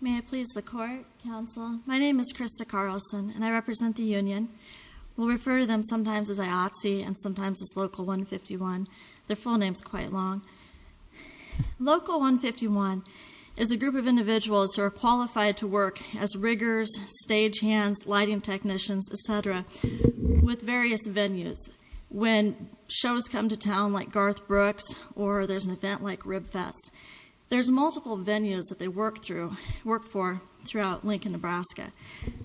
May I please the court, counsel? My name is Krista Carlson, and I represent the union. We'll refer to them sometimes as IATSE and sometimes as Local 151. Their full name's quite long. Local 151 is a group of individuals who are qualified to work as riggers, stagehands, lighting technicians, etc., with various venues. When shows come to town like Garth Brooks, or there's an event like Ribfest, there's multiple venues that they work for throughout Lincoln, Nebraska.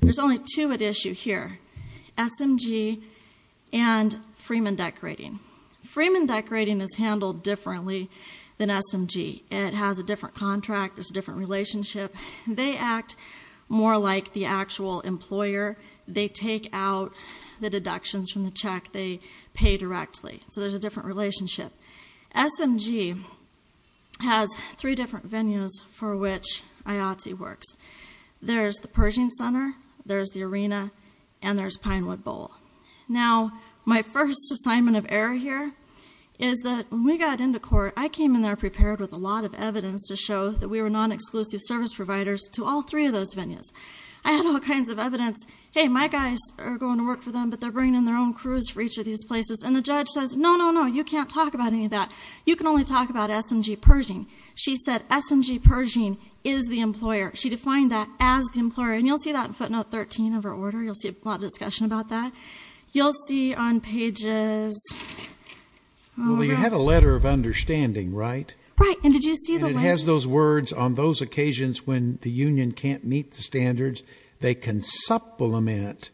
There's only two at issue here, SMG and Freeman Decorating. Freeman Decorating is handled differently than SMG. It has a different contract. There's a different relationship. They act more like the actual employer. They take out the deductions from the check. They pay directly. So there's a different relationship. SMG has three different venues for which IATSE works. There's the Pershing Center, there's the arena, and there's Pinewood Bowl. Now, my first assignment of error here is that when we got into court, I came in there prepared with a lot of evidence to show that we were non-exclusive service providers to all three of those venues. I had all kinds of evidence. Hey, my guys are going to work for them, but they're bringing in their own crews for each of these places, and the judge says, no, no, no, you can't talk about any of that. You can only talk about SMG Pershing. She said SMG Pershing is the employer. She defined that as the employer, and you'll see that in footnote 13 of her order. You'll see a lot of discussion about that. You'll see on pages... Well, you had a letter of understanding, right? Right, and did you see the language? And it has those words, on those occasions when the union can't meet the standards, they can supplement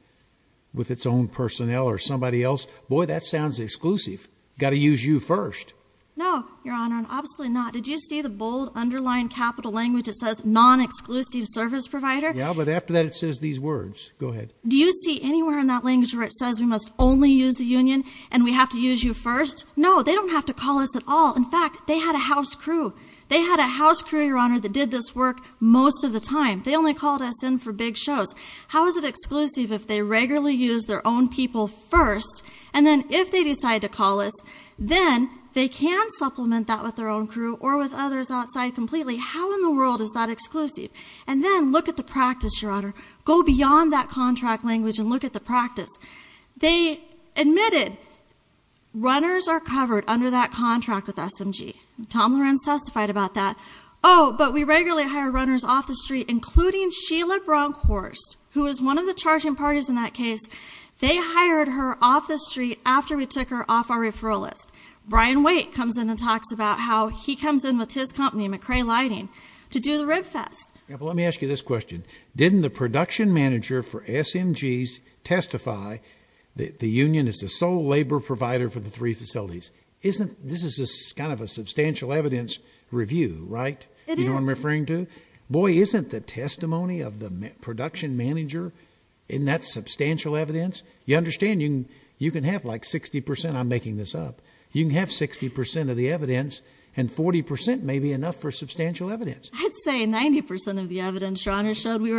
with its own personnel or somebody else. Boy, that sounds exclusive. Got to use you first. No, Your Honor, and absolutely not. Did you see the bold, underlined capital language that says non-exclusive service provider? Yeah, but after that, it says these words. Go ahead. Do you see anywhere in that language where it says we must only use the union and we have to use you first? No, they don't have to call us at all. In fact, they had a house crew. They had a house crew, Your Honor, that did this work most of the time. They only called us in for big shows. How is it exclusive if they regularly use their own people first, and then if they decide to call us, then they can supplement that with their own crew or with others outside completely. How in the world is that exclusive? And then look at the practice, Your Honor. Go beyond that contract language and look at the practice. They admitted runners are covered under that contract with SMG. Tom Lorenz testified about that. Oh, but we regularly hire runners off the street, including Sheila Bronkhorst, who was one of the charging parties in that case. They hired her off the street after we took her off our referral list. Brian Waite comes in and talks about how he comes in with his company, McCray Lighting, to do the rib fest. Yeah, but let me ask you this question. Didn't the production manager for SMGs testify that the union is the sole labor provider for the three facilities? This is kind of a substantial evidence review, right? It is. You know who I'm referring to? Boy, isn't the testimony of the production manager in that substantial evidence? You understand you can have like 60 percent. I'm making this up. You can have 60 percent of the evidence, and 40 percent may be enough for substantial evidence. I'd say 90 percent of the evidence, Your Honor, showed we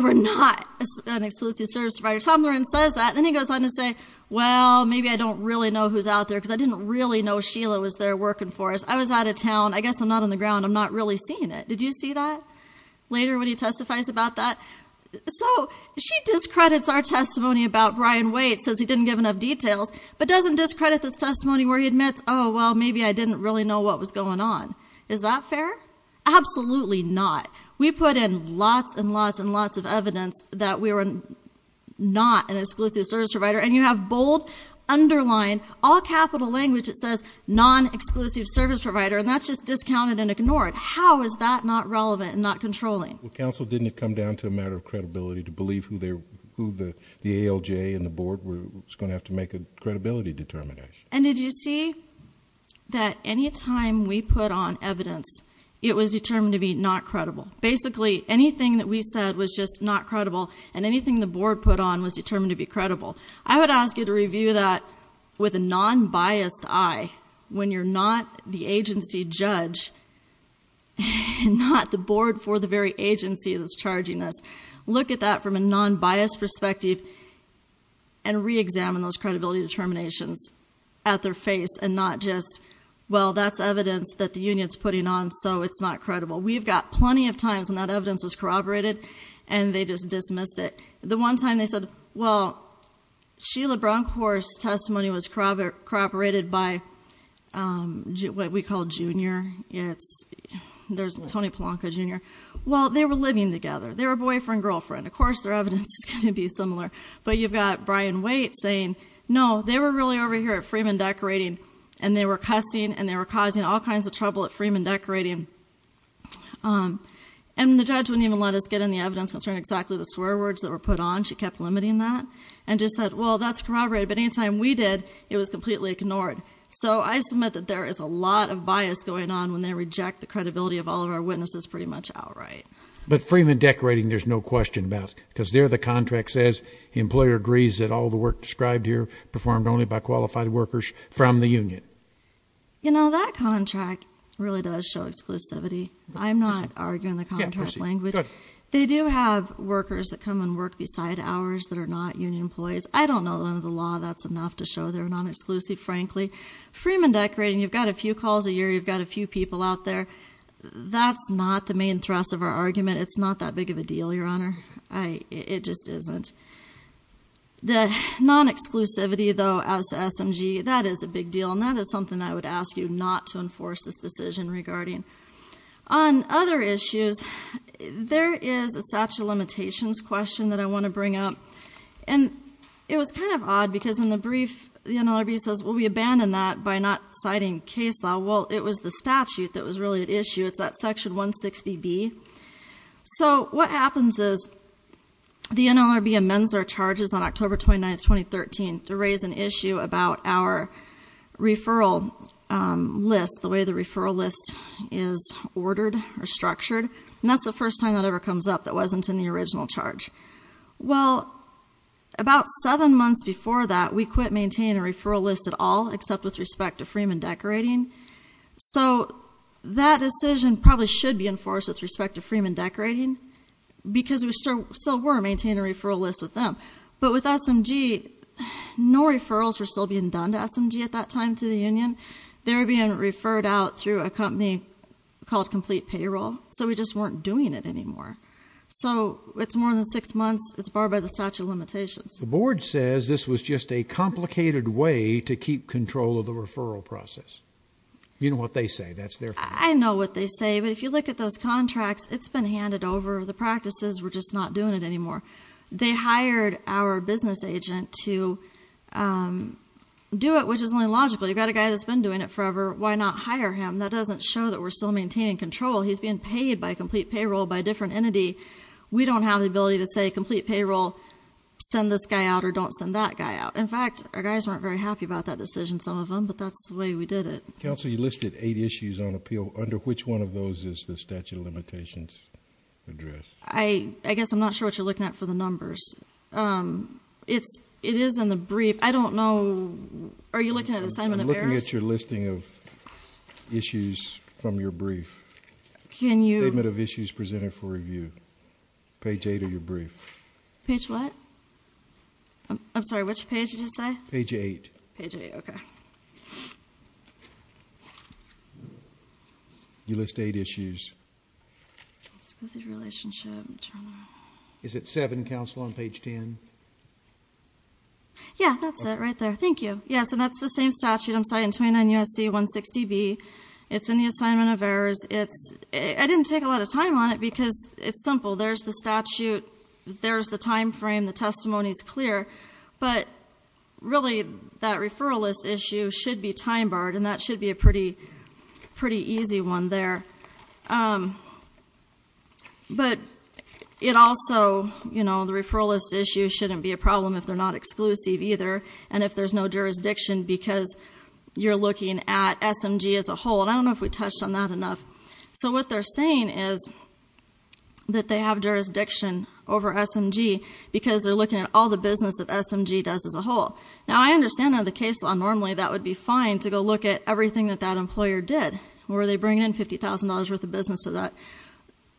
were not an exclusive service provider. Then he goes on to say, well, maybe I don't really know who's out there because I didn't really know Sheila was there working for us. I was out of town. I guess I'm not on the ground. I'm not really seeing it. Did you see that later when he testifies about that? So she discredits our testimony about Brian Waite, says he didn't give enough details, but doesn't discredit this testimony where he admits, oh, well, maybe I didn't really know what was going on. Is that fair? Absolutely not. We put in lots and lots and lots of evidence that we were not an exclusive service provider, and you have bold, underlined, all capital language that says non-exclusive service provider, and that's just discounted and ignored. How is that not relevant and not controlling? Well, counsel, didn't it come down to a matter of credibility to believe who the ALJ and the board was going to have to make a credibility determination? And did you see that any time we put on evidence, it was determined to be not credible? Basically, anything that we said was just not credible, and anything the board put on was determined to be credible. I would ask you to review that with a non-biased eye. When you're not the agency judge, not the board for the very agency that's charging us, look at that from a non-biased perspective and re-examine those credibility determinations at their face, and not just, well, that's evidence that the union's putting on, so it's not credible. We've got plenty of times when that evidence was corroborated, and they just dismissed it. The one time they said, well, Sheila Bronkhorst's testimony was corroborated by what we call Junior. There's Tony Polonka, Jr. Well, they were living together. They were boyfriend-girlfriend. Of course their evidence is going to be similar. But you've got Brian Waite saying, no, they were really over here at Freeman Decorating, and they were cussing and they were causing all kinds of trouble at Freeman Decorating. And the judge wouldn't even let us get in the evidence concerning exactly the swear words that were put on. She kept limiting that and just said, well, that's corroborated. But any time we did, it was completely ignored. So I submit that there is a lot of bias going on when they reject the credibility of all of our witnesses pretty much outright. But Freeman Decorating there's no question about, because there the contract says, the employer agrees that all the work described here performed only by qualified workers from the union. You know, that contract really does show exclusivity. I'm not arguing the contract language. They do have workers that come and work beside ours that are not union employees. I don't know under the law that's enough to show they're non-exclusive, frankly. Freeman Decorating, you've got a few calls a year, you've got a few people out there. That's not the main thrust of our argument. It's not that big of a deal, Your Honor. It just isn't. The non-exclusivity, though, as to SMG, that is a big deal. And that is something I would ask you not to enforce this decision regarding. On other issues, there is a statute of limitations question that I want to bring up. And it was kind of odd, because in the brief, the NLRB says, well, we abandoned that by not citing case law. Well, it was the statute that was really at issue. It's that Section 160B. So what happens is the NLRB amends our charges on October 29, 2013, to raise an issue about our referral list, the way the referral list is ordered or structured. And that's the first time that ever comes up that wasn't in the original charge. Well, about seven months before that, we quit maintaining a referral list at all, except with respect to Freeman Decorating. So that decision probably should be enforced with respect to Freeman Decorating, because we still were maintaining a referral list with them. But with SMG, no referrals were still being done to SMG at that time through the union. They were being referred out through a company called Complete Payroll. So we just weren't doing it anymore. So it's more than six months. It's barred by the statute of limitations. The board says this was just a complicated way to keep control of the referral process. You know what they say. I know what they say. But if you look at those contracts, it's been handed over. The practices were just not doing it anymore. They hired our business agent to do it, which is only logical. You've got a guy that's been doing it forever. Why not hire him? That doesn't show that we're still maintaining control. He's being paid by Complete Payroll by a different entity. We don't have the ability to say, Complete Payroll, send this guy out or don't send that guy out. In fact, our guys weren't very happy about that decision, some of them, but that's the way we did it. Counsel, you listed eight issues on appeal. Under which one of those is the statute of limitations addressed? I guess I'm not sure what you're looking at for the numbers. It is in the brief. I don't know. Are you looking at assignment of errors? I'm looking at your listing of issues from your brief. Can you? Statement of issues presented for review. Page eight of your brief. Page what? I'm sorry, which page did you say? Page eight. Page eight, okay. You list eight issues. Is it seven, counsel, on page 10? Yeah, that's it right there. Thank you. Yes, and that's the same statute I'm citing, 29 U.S.C. 160B. It's in the assignment of errors. I didn't take a lot of time on it because it's simple. There's the statute. There's the time frame. The testimony's clear. But really, that referral list issue should be time barred, and that should be a pretty easy one there. But it also, you know, the referral list issue shouldn't be a problem if they're not exclusive either, and if there's no jurisdiction because you're looking at SMG as a whole. And I don't know if we touched on that enough. So what they're saying is that they have jurisdiction over SMG because they're looking at all the business that SMG does as a whole. Now, I understand under the case law, normally that would be fine to go look at everything that that employer did. Were they bringing in $50,000 worth of business to that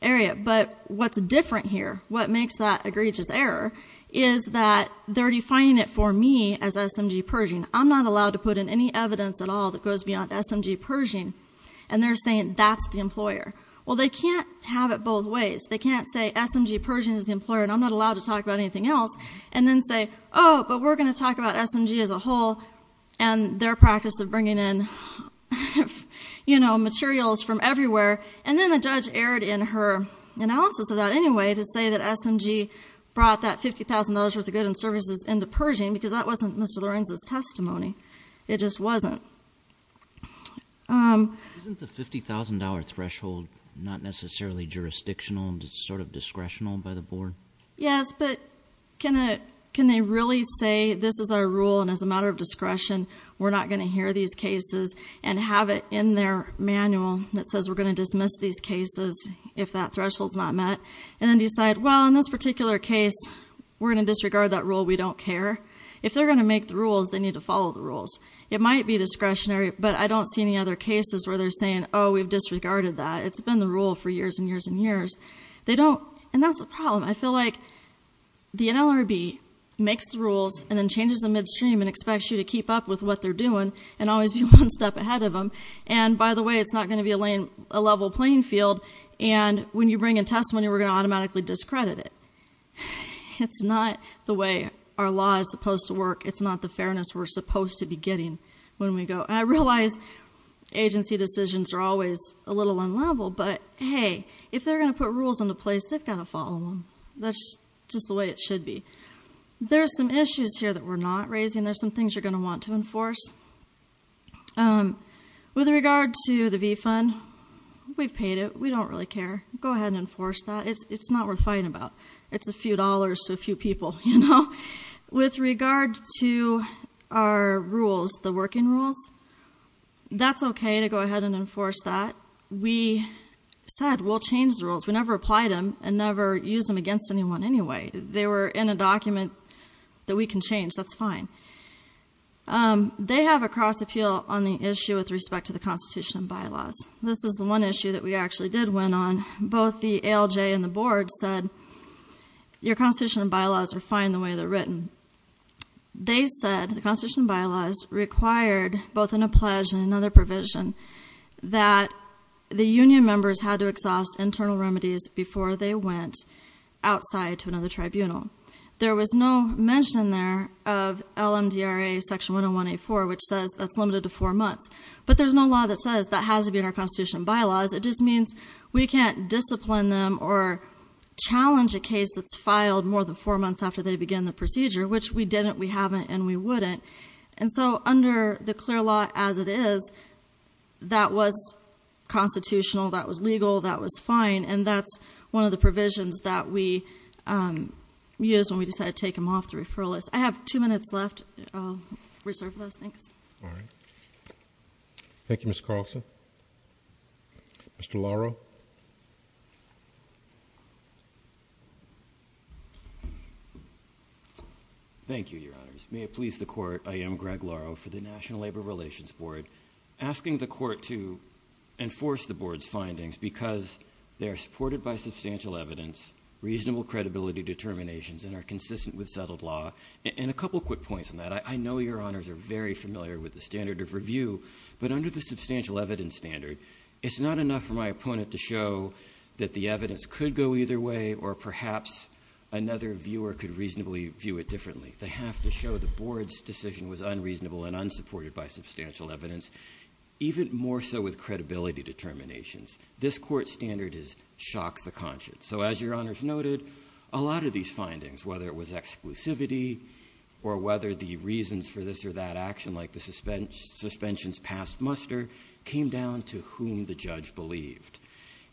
area? But what's different here, what makes that egregious error, is that they're defining it for me as SMG purging. I'm not allowed to put in any evidence at all that goes beyond SMG purging, and they're saying that's the employer. Well, they can't have it both ways. They can't say SMG purging is the employer, and I'm not allowed to talk about anything else, and then say, oh, but we're going to talk about SMG as a whole and their practice of bringing in, you know, materials from everywhere. And then the judge erred in her analysis of that anyway to say that SMG brought that $50,000 worth of goods and services into purging because that wasn't Mr. Lorenz's testimony. It just wasn't. Isn't the $50,000 threshold not necessarily jurisdictional and sort of discretional by the board? Yes, but can they really say this is our rule, and as a matter of discretion, we're not going to hear these cases and have it in their manual that says we're going to dismiss these cases if that threshold's not met, and then decide, well, in this particular case, we're going to disregard that rule. We don't care. If they're going to make the rules, they need to follow the rules. It might be discretionary, but I don't see any other cases where they're saying, oh, we've disregarded that. It's been the rule for years and years and years. They don't, and that's the problem. I feel like the NLRB makes the rules and then changes the midstream and expects you to keep up with what they're doing and always be one step ahead of them, and by the way, it's not going to be a level playing field, and when you bring a testimony, we're going to automatically discredit it. It's not the way our law is supposed to work. It's not the fairness we're supposed to be getting when we go, and I realize agency decisions are always a little unlevel, but hey, if they're going to put rules into place, they've got to follow them. That's just the way it should be. There are some issues here that we're not raising. There are some things you're going to want to enforce. With regard to the V-Fund, we've paid it. We don't really care. Go ahead and enforce that. It's not worth fighting about. It's a few dollars to a few people, you know. With regard to our rules, the working rules, that's okay to go ahead and enforce that. We said we'll change the rules. We never applied them and never used them against anyone anyway. They were in a document that we can change. That's fine. They have a cross appeal on the issue with respect to the Constitution and bylaws. This is the one issue that we actually did win on. Both the ALJ and the board said your Constitution and bylaws are fine the way they're written. They said the Constitution and bylaws required, both in a pledge and another provision, that the union members had to exhaust internal remedies before they went outside to another tribunal. There was no mention there of LMDRA section 101A4, which says that's limited to four months. But there's no law that says that has to be in our Constitution and bylaws. It just means we can't discipline them or challenge a case that's filed more than four months after they begin the procedure, which we didn't, we haven't, and we wouldn't. And so under the clear law as it is, that was constitutional, that was legal, that was fine. And that's one of the provisions that we used when we decided to take them off the referral list. I have two minutes left. I'll reserve those. Thanks. All right. Thank you, Ms. Carlson. Mr. Laro. Thank you, Your Honors. May it please the court, I am Greg Laro for the National Labor Relations Board, asking the court to enforce the board's findings because they are supported by substantial evidence, reasonable credibility determinations, and are consistent with settled law. And a couple quick points on that. I know Your Honors are very familiar with the standard of review. But under the substantial evidence standard, it's not enough for my opponent to show that the evidence could go either way or perhaps another viewer could reasonably view it differently. They have to show the board's decision was unreasonable and unsupported by substantial evidence, even more so with credibility determinations. This court's standard shocks the conscience. So as Your Honors noted, a lot of these findings, whether it was exclusivity or whether the reasons for this or that action, like the suspensions past muster, came down to whom the judge believed.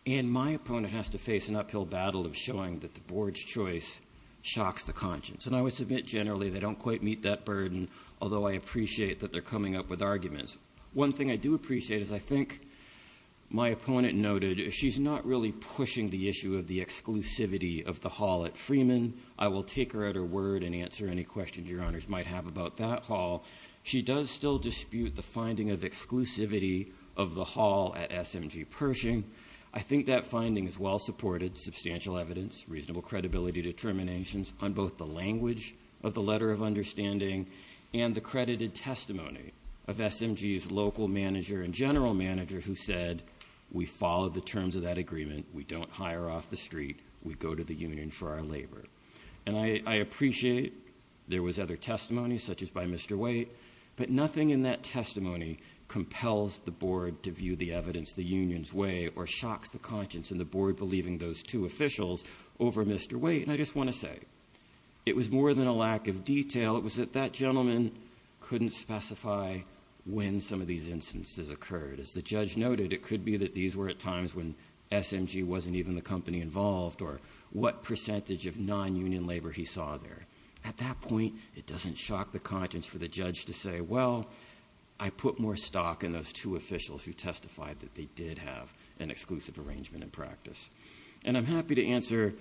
And my opponent has to face an uphill battle of showing that the board's choice shocks the conscience. And I would submit generally they don't quite meet that burden, although I appreciate that they're coming up with arguments. One thing I do appreciate is I think my opponent noted she's not really pushing the issue of the exclusivity of the hall at Freeman. I will take her at her word and answer any questions Your Honors might have about that hall. She does still dispute the finding of exclusivity of the hall at SMG Pershing. I think that finding is well supported, substantial evidence, reasonable credibility determinations, on both the language of the letter of understanding and the credited testimony of SMG's local manager and general manager who said we followed the terms of that agreement. We don't hire off the street. We go to the union for our labor. And I appreciate there was other testimony, such as by Mr. White, but nothing in that testimony compels the board to view the evidence the union's way or shocks the conscience and the board believing those two officials over Mr. White. And I just want to say it was more than a lack of detail. It was that that gentleman couldn't specify when some of these instances occurred. As the judge noted, it could be that these were at times when SMG wasn't even the company involved or what percentage of non-union labor he saw there. At that point, it doesn't shock the conscience for the judge to say, well, I put more stock in those two officials who testified that they did have an exclusive arrangement in practice. And I'm happy to answer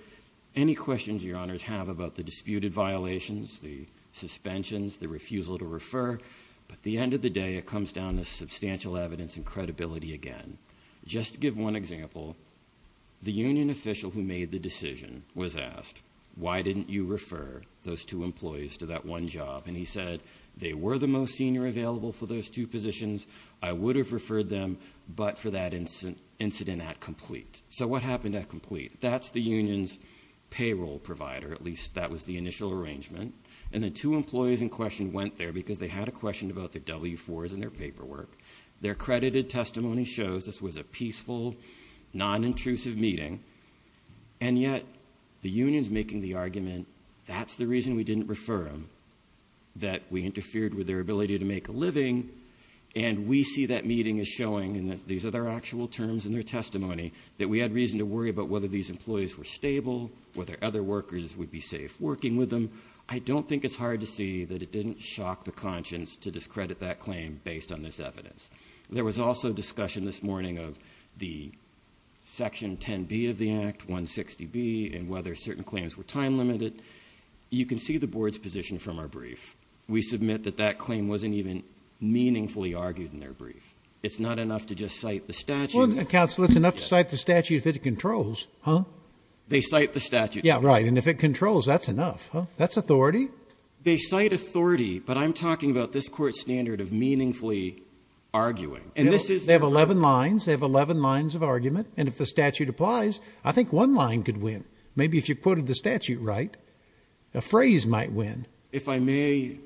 any questions your honors have about the disputed violations, the suspensions, the refusal to refer. But at the end of the day, it comes down to substantial evidence and credibility again. Just to give one example, the union official who made the decision was asked, why didn't you refer those two employees to that one job? And he said, they were the most senior available for those two positions. I would have referred them, but for that incident at complete. So what happened at complete? That's the union's payroll provider, at least that was the initial arrangement. And the two employees in question went there because they had a question about the W-4s in their paperwork. Their credited testimony shows this was a peaceful, non-intrusive meeting. And yet, the union's making the argument, that's the reason we didn't refer them. And we see that meeting as showing, and these are their actual terms and their testimony, that we had reason to worry about whether these employees were stable, whether other workers would be safe working with them. I don't think it's hard to see that it didn't shock the conscience to discredit that claim based on this evidence. There was also discussion this morning of the section 10B of the act, 160B, and whether certain claims were time limited. You can see the board's position from our brief. We submit that that claim wasn't even meaningfully argued in their brief. It's not enough to just cite the statute. Counsel, it's enough to cite the statute if it controls. Huh? They cite the statute. Yeah, right, and if it controls, that's enough. That's authority. They cite authority, but I'm talking about this court's standard of meaningfully arguing. And this is- They have 11 lines. They have 11 lines of argument. And if the statute applies, I think one line could win. Maybe if you quoted the statute right, a phrase might win. If I may,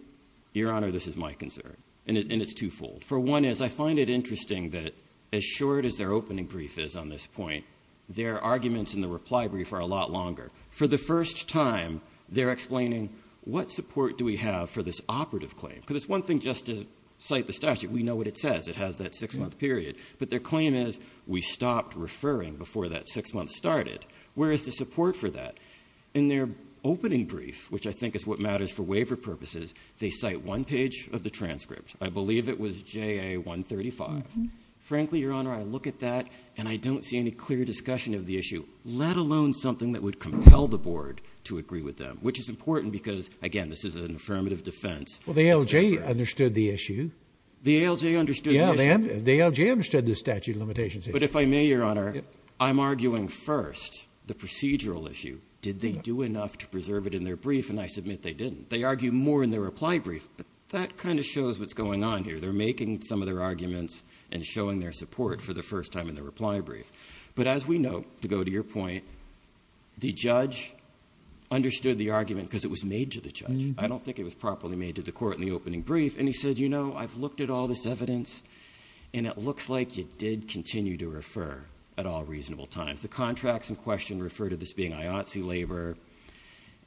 Your Honor, this is my concern, and it's twofold. For one is I find it interesting that as short as their opening brief is on this point, their arguments in the reply brief are a lot longer. For the first time, they're explaining what support do we have for this operative claim? Because it's one thing just to cite the statute. We know what it says. It has that six-month period. But their claim is we stopped referring before that six-month started. Where is the support for that? In their opening brief, which I think is what matters for waiver purposes, they cite one page of the transcript. I believe it was JA 135. Frankly, Your Honor, I look at that, and I don't see any clear discussion of the issue, let alone something that would compel the board to agree with them, which is important because, again, this is an affirmative defense. Well, the ALJ understood the issue. The ALJ understood the issue? Yeah, ma'am. The ALJ understood the statute of limitations issue. But if I may, Your Honor, I'm arguing first the procedural issue. Did they do enough to preserve it in their brief? And I submit they didn't. They argued more in their reply brief. But that kind of shows what's going on here. They're making some of their arguments and showing their support for the first time in the reply brief. But as we know, to go to your point, the judge understood the argument because it was made to the judge. I don't think it was properly made to the court in the opening brief. And he said, you know, I've looked at all this evidence, and it looks like you did continue to refer at all reasonable times. The contracts in question refer to this being IOTSE labor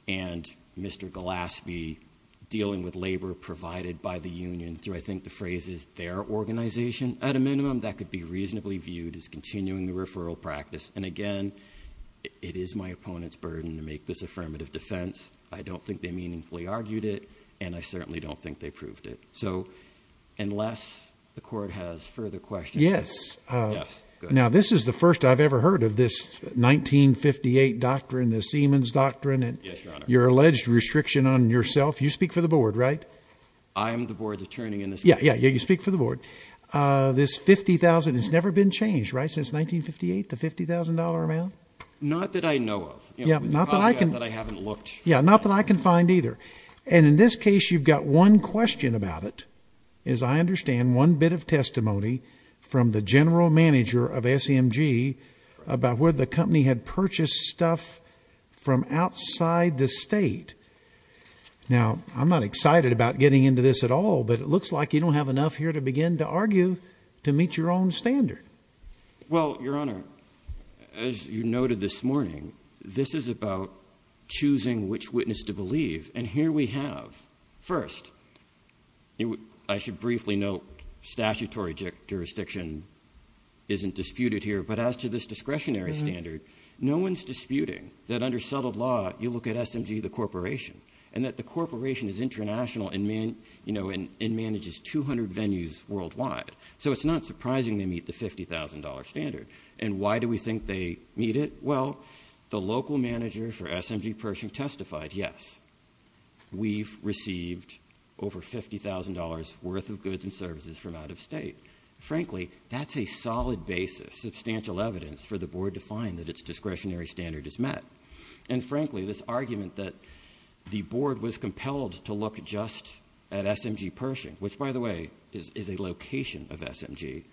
and Mr. Gillaspie dealing with labor provided by the union through, I think, the phrases their organization. At a minimum, that could be reasonably viewed as continuing the referral practice. And again, it is my opponent's burden to make this affirmative defense. I don't think they meaningfully argued it. And I certainly don't think they proved it. So unless the court has further questions. Yes. Yes. Now, this is the first I've ever heard of this 1958 doctrine, the Siemens Doctrine, and your alleged restriction on yourself. You speak for the board, right? I am the board's attorney in this case. Yeah, yeah, you speak for the board. This $50,000 has never been changed, right, since 1958, the $50,000 amount? Not that I know of. Yeah, not that I can find either. And in this case, you've got one question about it. As I understand, one bit of testimony from the general manager of SMG about where the company had purchased stuff from outside the state. Now, I'm not excited about getting into this at all, but it looks like you don't have enough here to begin to argue to meet your own standard. Well, Your Honor, as you noted this morning, this is about choosing which witness to believe. And here we have, first, I should briefly note, statutory jurisdiction isn't disputed here. But as to this discretionary standard, no one's disputing that under settled law, you look at SMG, the corporation, and that the corporation is international and manages 200 venues worldwide. So it's not surprising they meet the $50,000 standard. And why do we think they meet it? Well, the local manager for SMG Pershing testified, yes, we've received over $50,000 worth of goods and services from out of state. Frankly, that's a solid basis, substantial evidence, for the board to find that its discretionary standard is met. And frankly, this argument that the board was compelled to look just at SMG Pershing, which, by the way, is a location of SMG,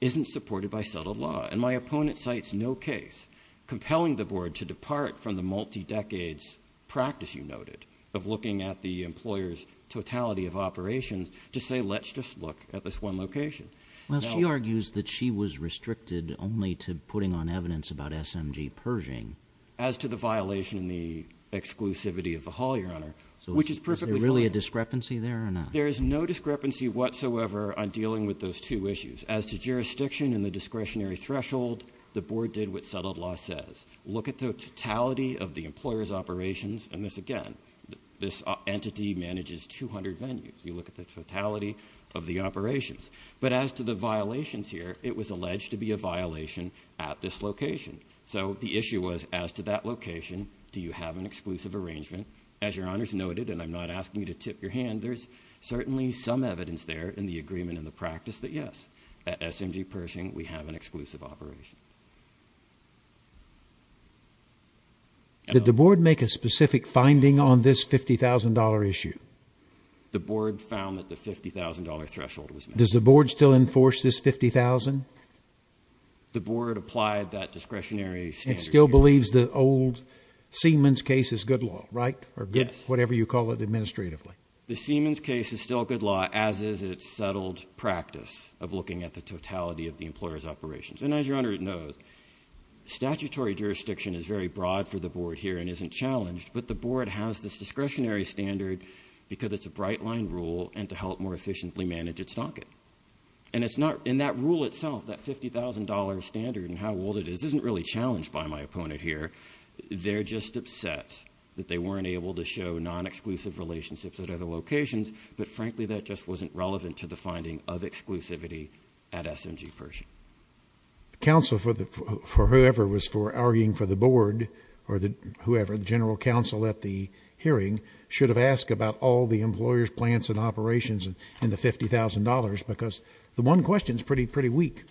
isn't supported by settled law. And my opponent cites no case compelling the board to depart from the multi-decades practice, you noted, of looking at the employer's totality of operations to say, let's just look at this one location. Well, she argues that she was restricted only to putting on evidence about SMG Pershing. As to the violation in the exclusivity of the hall, your honor, which is perfectly fine. Is there really a discrepancy there or not? There is no discrepancy whatsoever on dealing with those two issues. As to jurisdiction and the discretionary threshold, the board did what settled law says. Look at the totality of the employer's operations, and this, again, this entity manages 200 venues. You look at the totality of the operations. But as to the violations here, it was alleged to be a violation at this location. So the issue was, as to that location, do you have an exclusive arrangement? As your honors noted, and I'm not asking you to tip your hand, there's certainly some evidence there in the agreement and the practice that, yes, at SMG Pershing, we have an exclusive operation. Did the board make a specific finding on this $50,000 issue? The board found that the $50,000 threshold was met. Does the board still enforce this $50,000? The board applied that discretionary standard. It still believes the old Siemens case is good law, right? Yes. Or whatever you call it administratively. The Siemens case is still good law, as is its settled practice of looking at the totality of the employer's operations. And as your honor knows, statutory jurisdiction is very broad for the board here and isn't challenged, but the board has this discretionary standard because it's a bright-line rule and to help more efficiently manage its docket. And it's not in that rule itself, that $50,000 standard and how old it is, isn't really challenged by my opponent here. They're just upset that they weren't able to show non-exclusive relationships at other locations, but frankly that just wasn't relevant to the finding of exclusivity at SMG Pershing. The counsel for whoever was arguing for the board or whoever, the general counsel at the hearing, should have asked about all the employer's plants and operations and the $50,000 because the one question is pretty weak.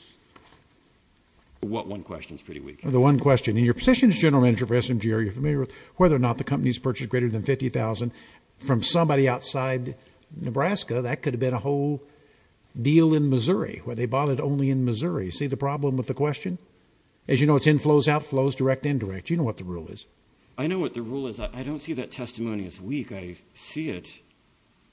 What one question is pretty weak? The one question. In your position as general manager for SMG, are you familiar with whether or not the company has purchased greater than $50,000 from somebody outside Nebraska? That could have been a whole deal in Missouri where they bought it only in Missouri. See the problem with the question? As you know, it's in flows, out flows, direct, indirect. You know what the rule is. I know what the rule is. I don't see that testimony as weak. I see it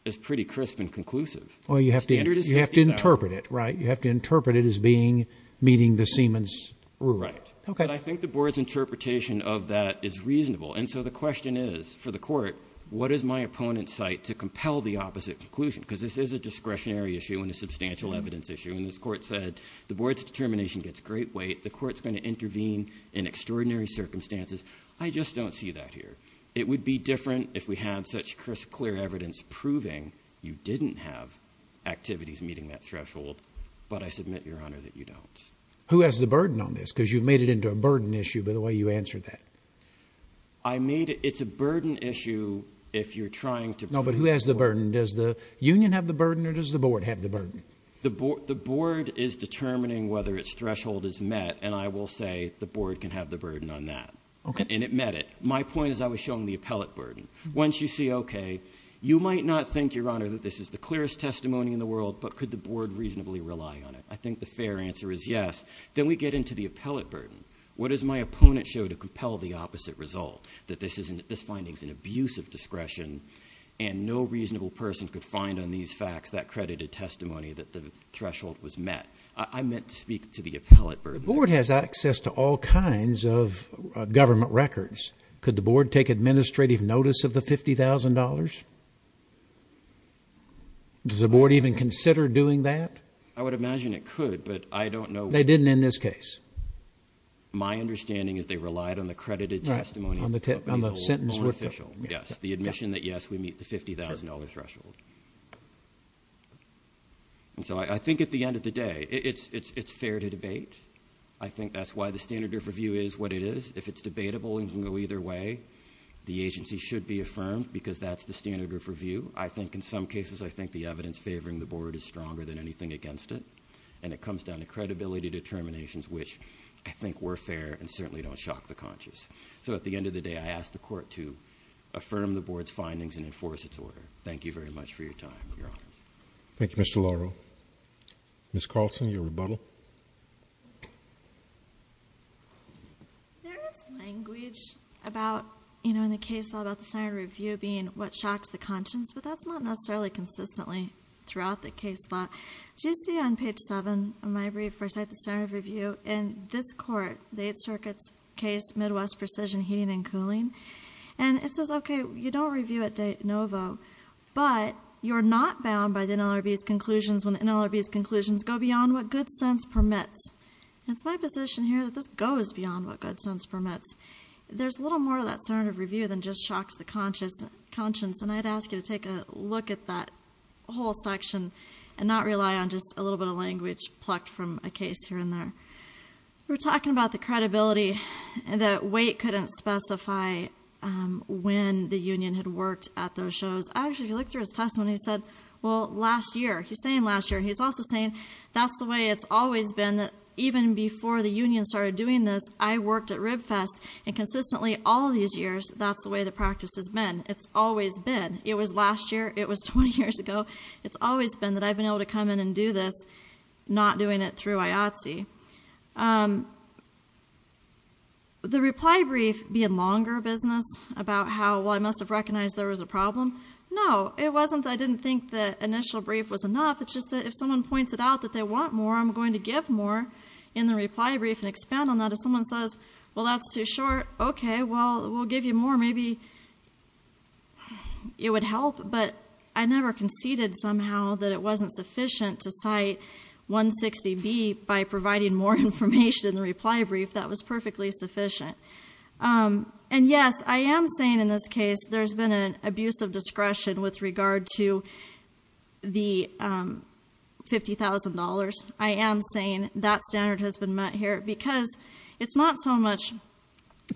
as pretty crisp and conclusive. Well, you have to interpret it, right? You have to interpret it as being meeting the Siemens rule. Right. Okay. But I think the board's interpretation of that is reasonable, and so the question is for the court, what is my opponent's site to compel the opposite conclusion because this is a discretionary issue and a substantial evidence issue, and this court said the board's determination gets great weight. The court's going to intervene in extraordinary circumstances. I just don't see that here. It would be different if we had such crisp, clear evidence proving you didn't have activities meeting that threshold, but I submit, Your Honor, that you don't. Who has the burden on this? Because you've made it into a burden issue by the way you answered that. I made it. It's a burden issue if you're trying to bring it to the board. No, but who has the burden? Does the union have the burden or does the board have the burden? The board is determining whether its threshold is met, and I will say the board can have the burden on that. And it met it. My point is I was showing the appellate burden. Once you see, okay, you might not think, Your Honor, that this is the clearest testimony in the world, but could the board reasonably rely on it? I think the fair answer is yes. Then we get into the appellate burden. What does my opponent show to compel the opposite result, that this finding is an abusive discretion and no reasonable person could find on these facts that credited testimony that the threshold was met? I meant to speak to the appellate burden. The board has access to all kinds of government records. Could the board take administrative notice of the $50,000? Does the board even consider doing that? I would imagine it could, but I don't know. They didn't in this case. My understanding is they relied on the credited testimony. On the sentence. Yes, the admission that, yes, we meet the $50,000 threshold. I think at the end of the day, it's fair to debate. I think that's why the standard of review is what it is. If it's debatable, it can go either way. The agency should be affirmed because that's the standard of review. I think in some cases, I think the evidence favoring the board is stronger than anything against it. It comes down to credibility determinations, which I think were fair and certainly don't shock the conscious. At the end of the day, I ask the court to affirm the board's findings and enforce its order. Thank you very much for your time, Your Honor. Thank you, Mr. Lauro. Ms. Carlson, your rebuttal. There is language about, you know, in the case law about the standard of review being what shocks the conscience, but that's not necessarily consistently throughout the case law. As you see on page 7 of my brief, where I cite the standard of review, in this court, the Eighth Circuit's case, Midwest Precision Heating and Cooling, and it says, okay, you don't review at de novo, but you're not bound by the NLRB's conclusions when the NLRB's conclusions go beyond what good sense permits. It's my position here that this goes beyond what good sense permits. There's a little more to that standard of review than just shocks the conscience, and I'd ask you to take a look at that whole section and not rely on just a little bit of language plucked from a case here and there. We're talking about the credibility that Waite couldn't specify when the union had worked at those shows. Actually, if you look through his testimony, he said, well, last year. He's saying last year. He's also saying that's the way it's always been, that even before the union started doing this, I worked at Ribfest, and consistently all these years, that's the way the practice has been. It's always been. It was last year. It was 20 years ago. It's always been that I've been able to come in and do this, not doing it through IATSE. The reply brief being longer business about how, well, I must have recognized there was a problem. No, it wasn't that I didn't think the initial brief was enough. It's just that if someone points it out that they want more, I'm going to give more in the reply brief and expand on that. If someone says, well, that's too short, okay, well, we'll give you more. Maybe it would help, but I never conceded somehow that it wasn't sufficient to cite 160B by providing more information in the reply brief. That was perfectly sufficient. And, yes, I am saying in this case there's been an abuse of discretion with regard to the $50,000. I am saying that standard has been met here because it's not so much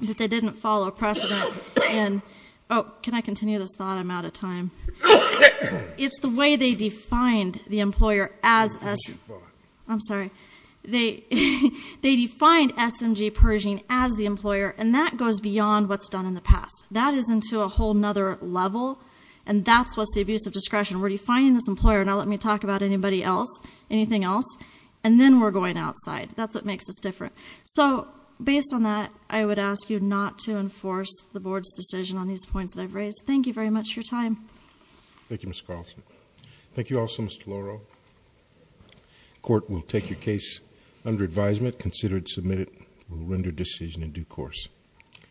that they didn't follow precedent. Oh, can I continue this thought? I'm out of time. It's the way they defined the employer as SMG Pershing as the employer, and that goes beyond what's done in the past. That is into a whole other level, and that's what's the abuse of discretion. We're defining this employer. Now let me talk about anybody else, anything else, and then we're going outside. That's what makes us different. So based on that, I would ask you not to enforce the board's decision on these points that I've raised. Thank you very much for your time. Thank you, Ms. Carlson. Thank you also, Mr. Deloro. The court will take your case under advisement, consider it submitted, and will render decision in due course.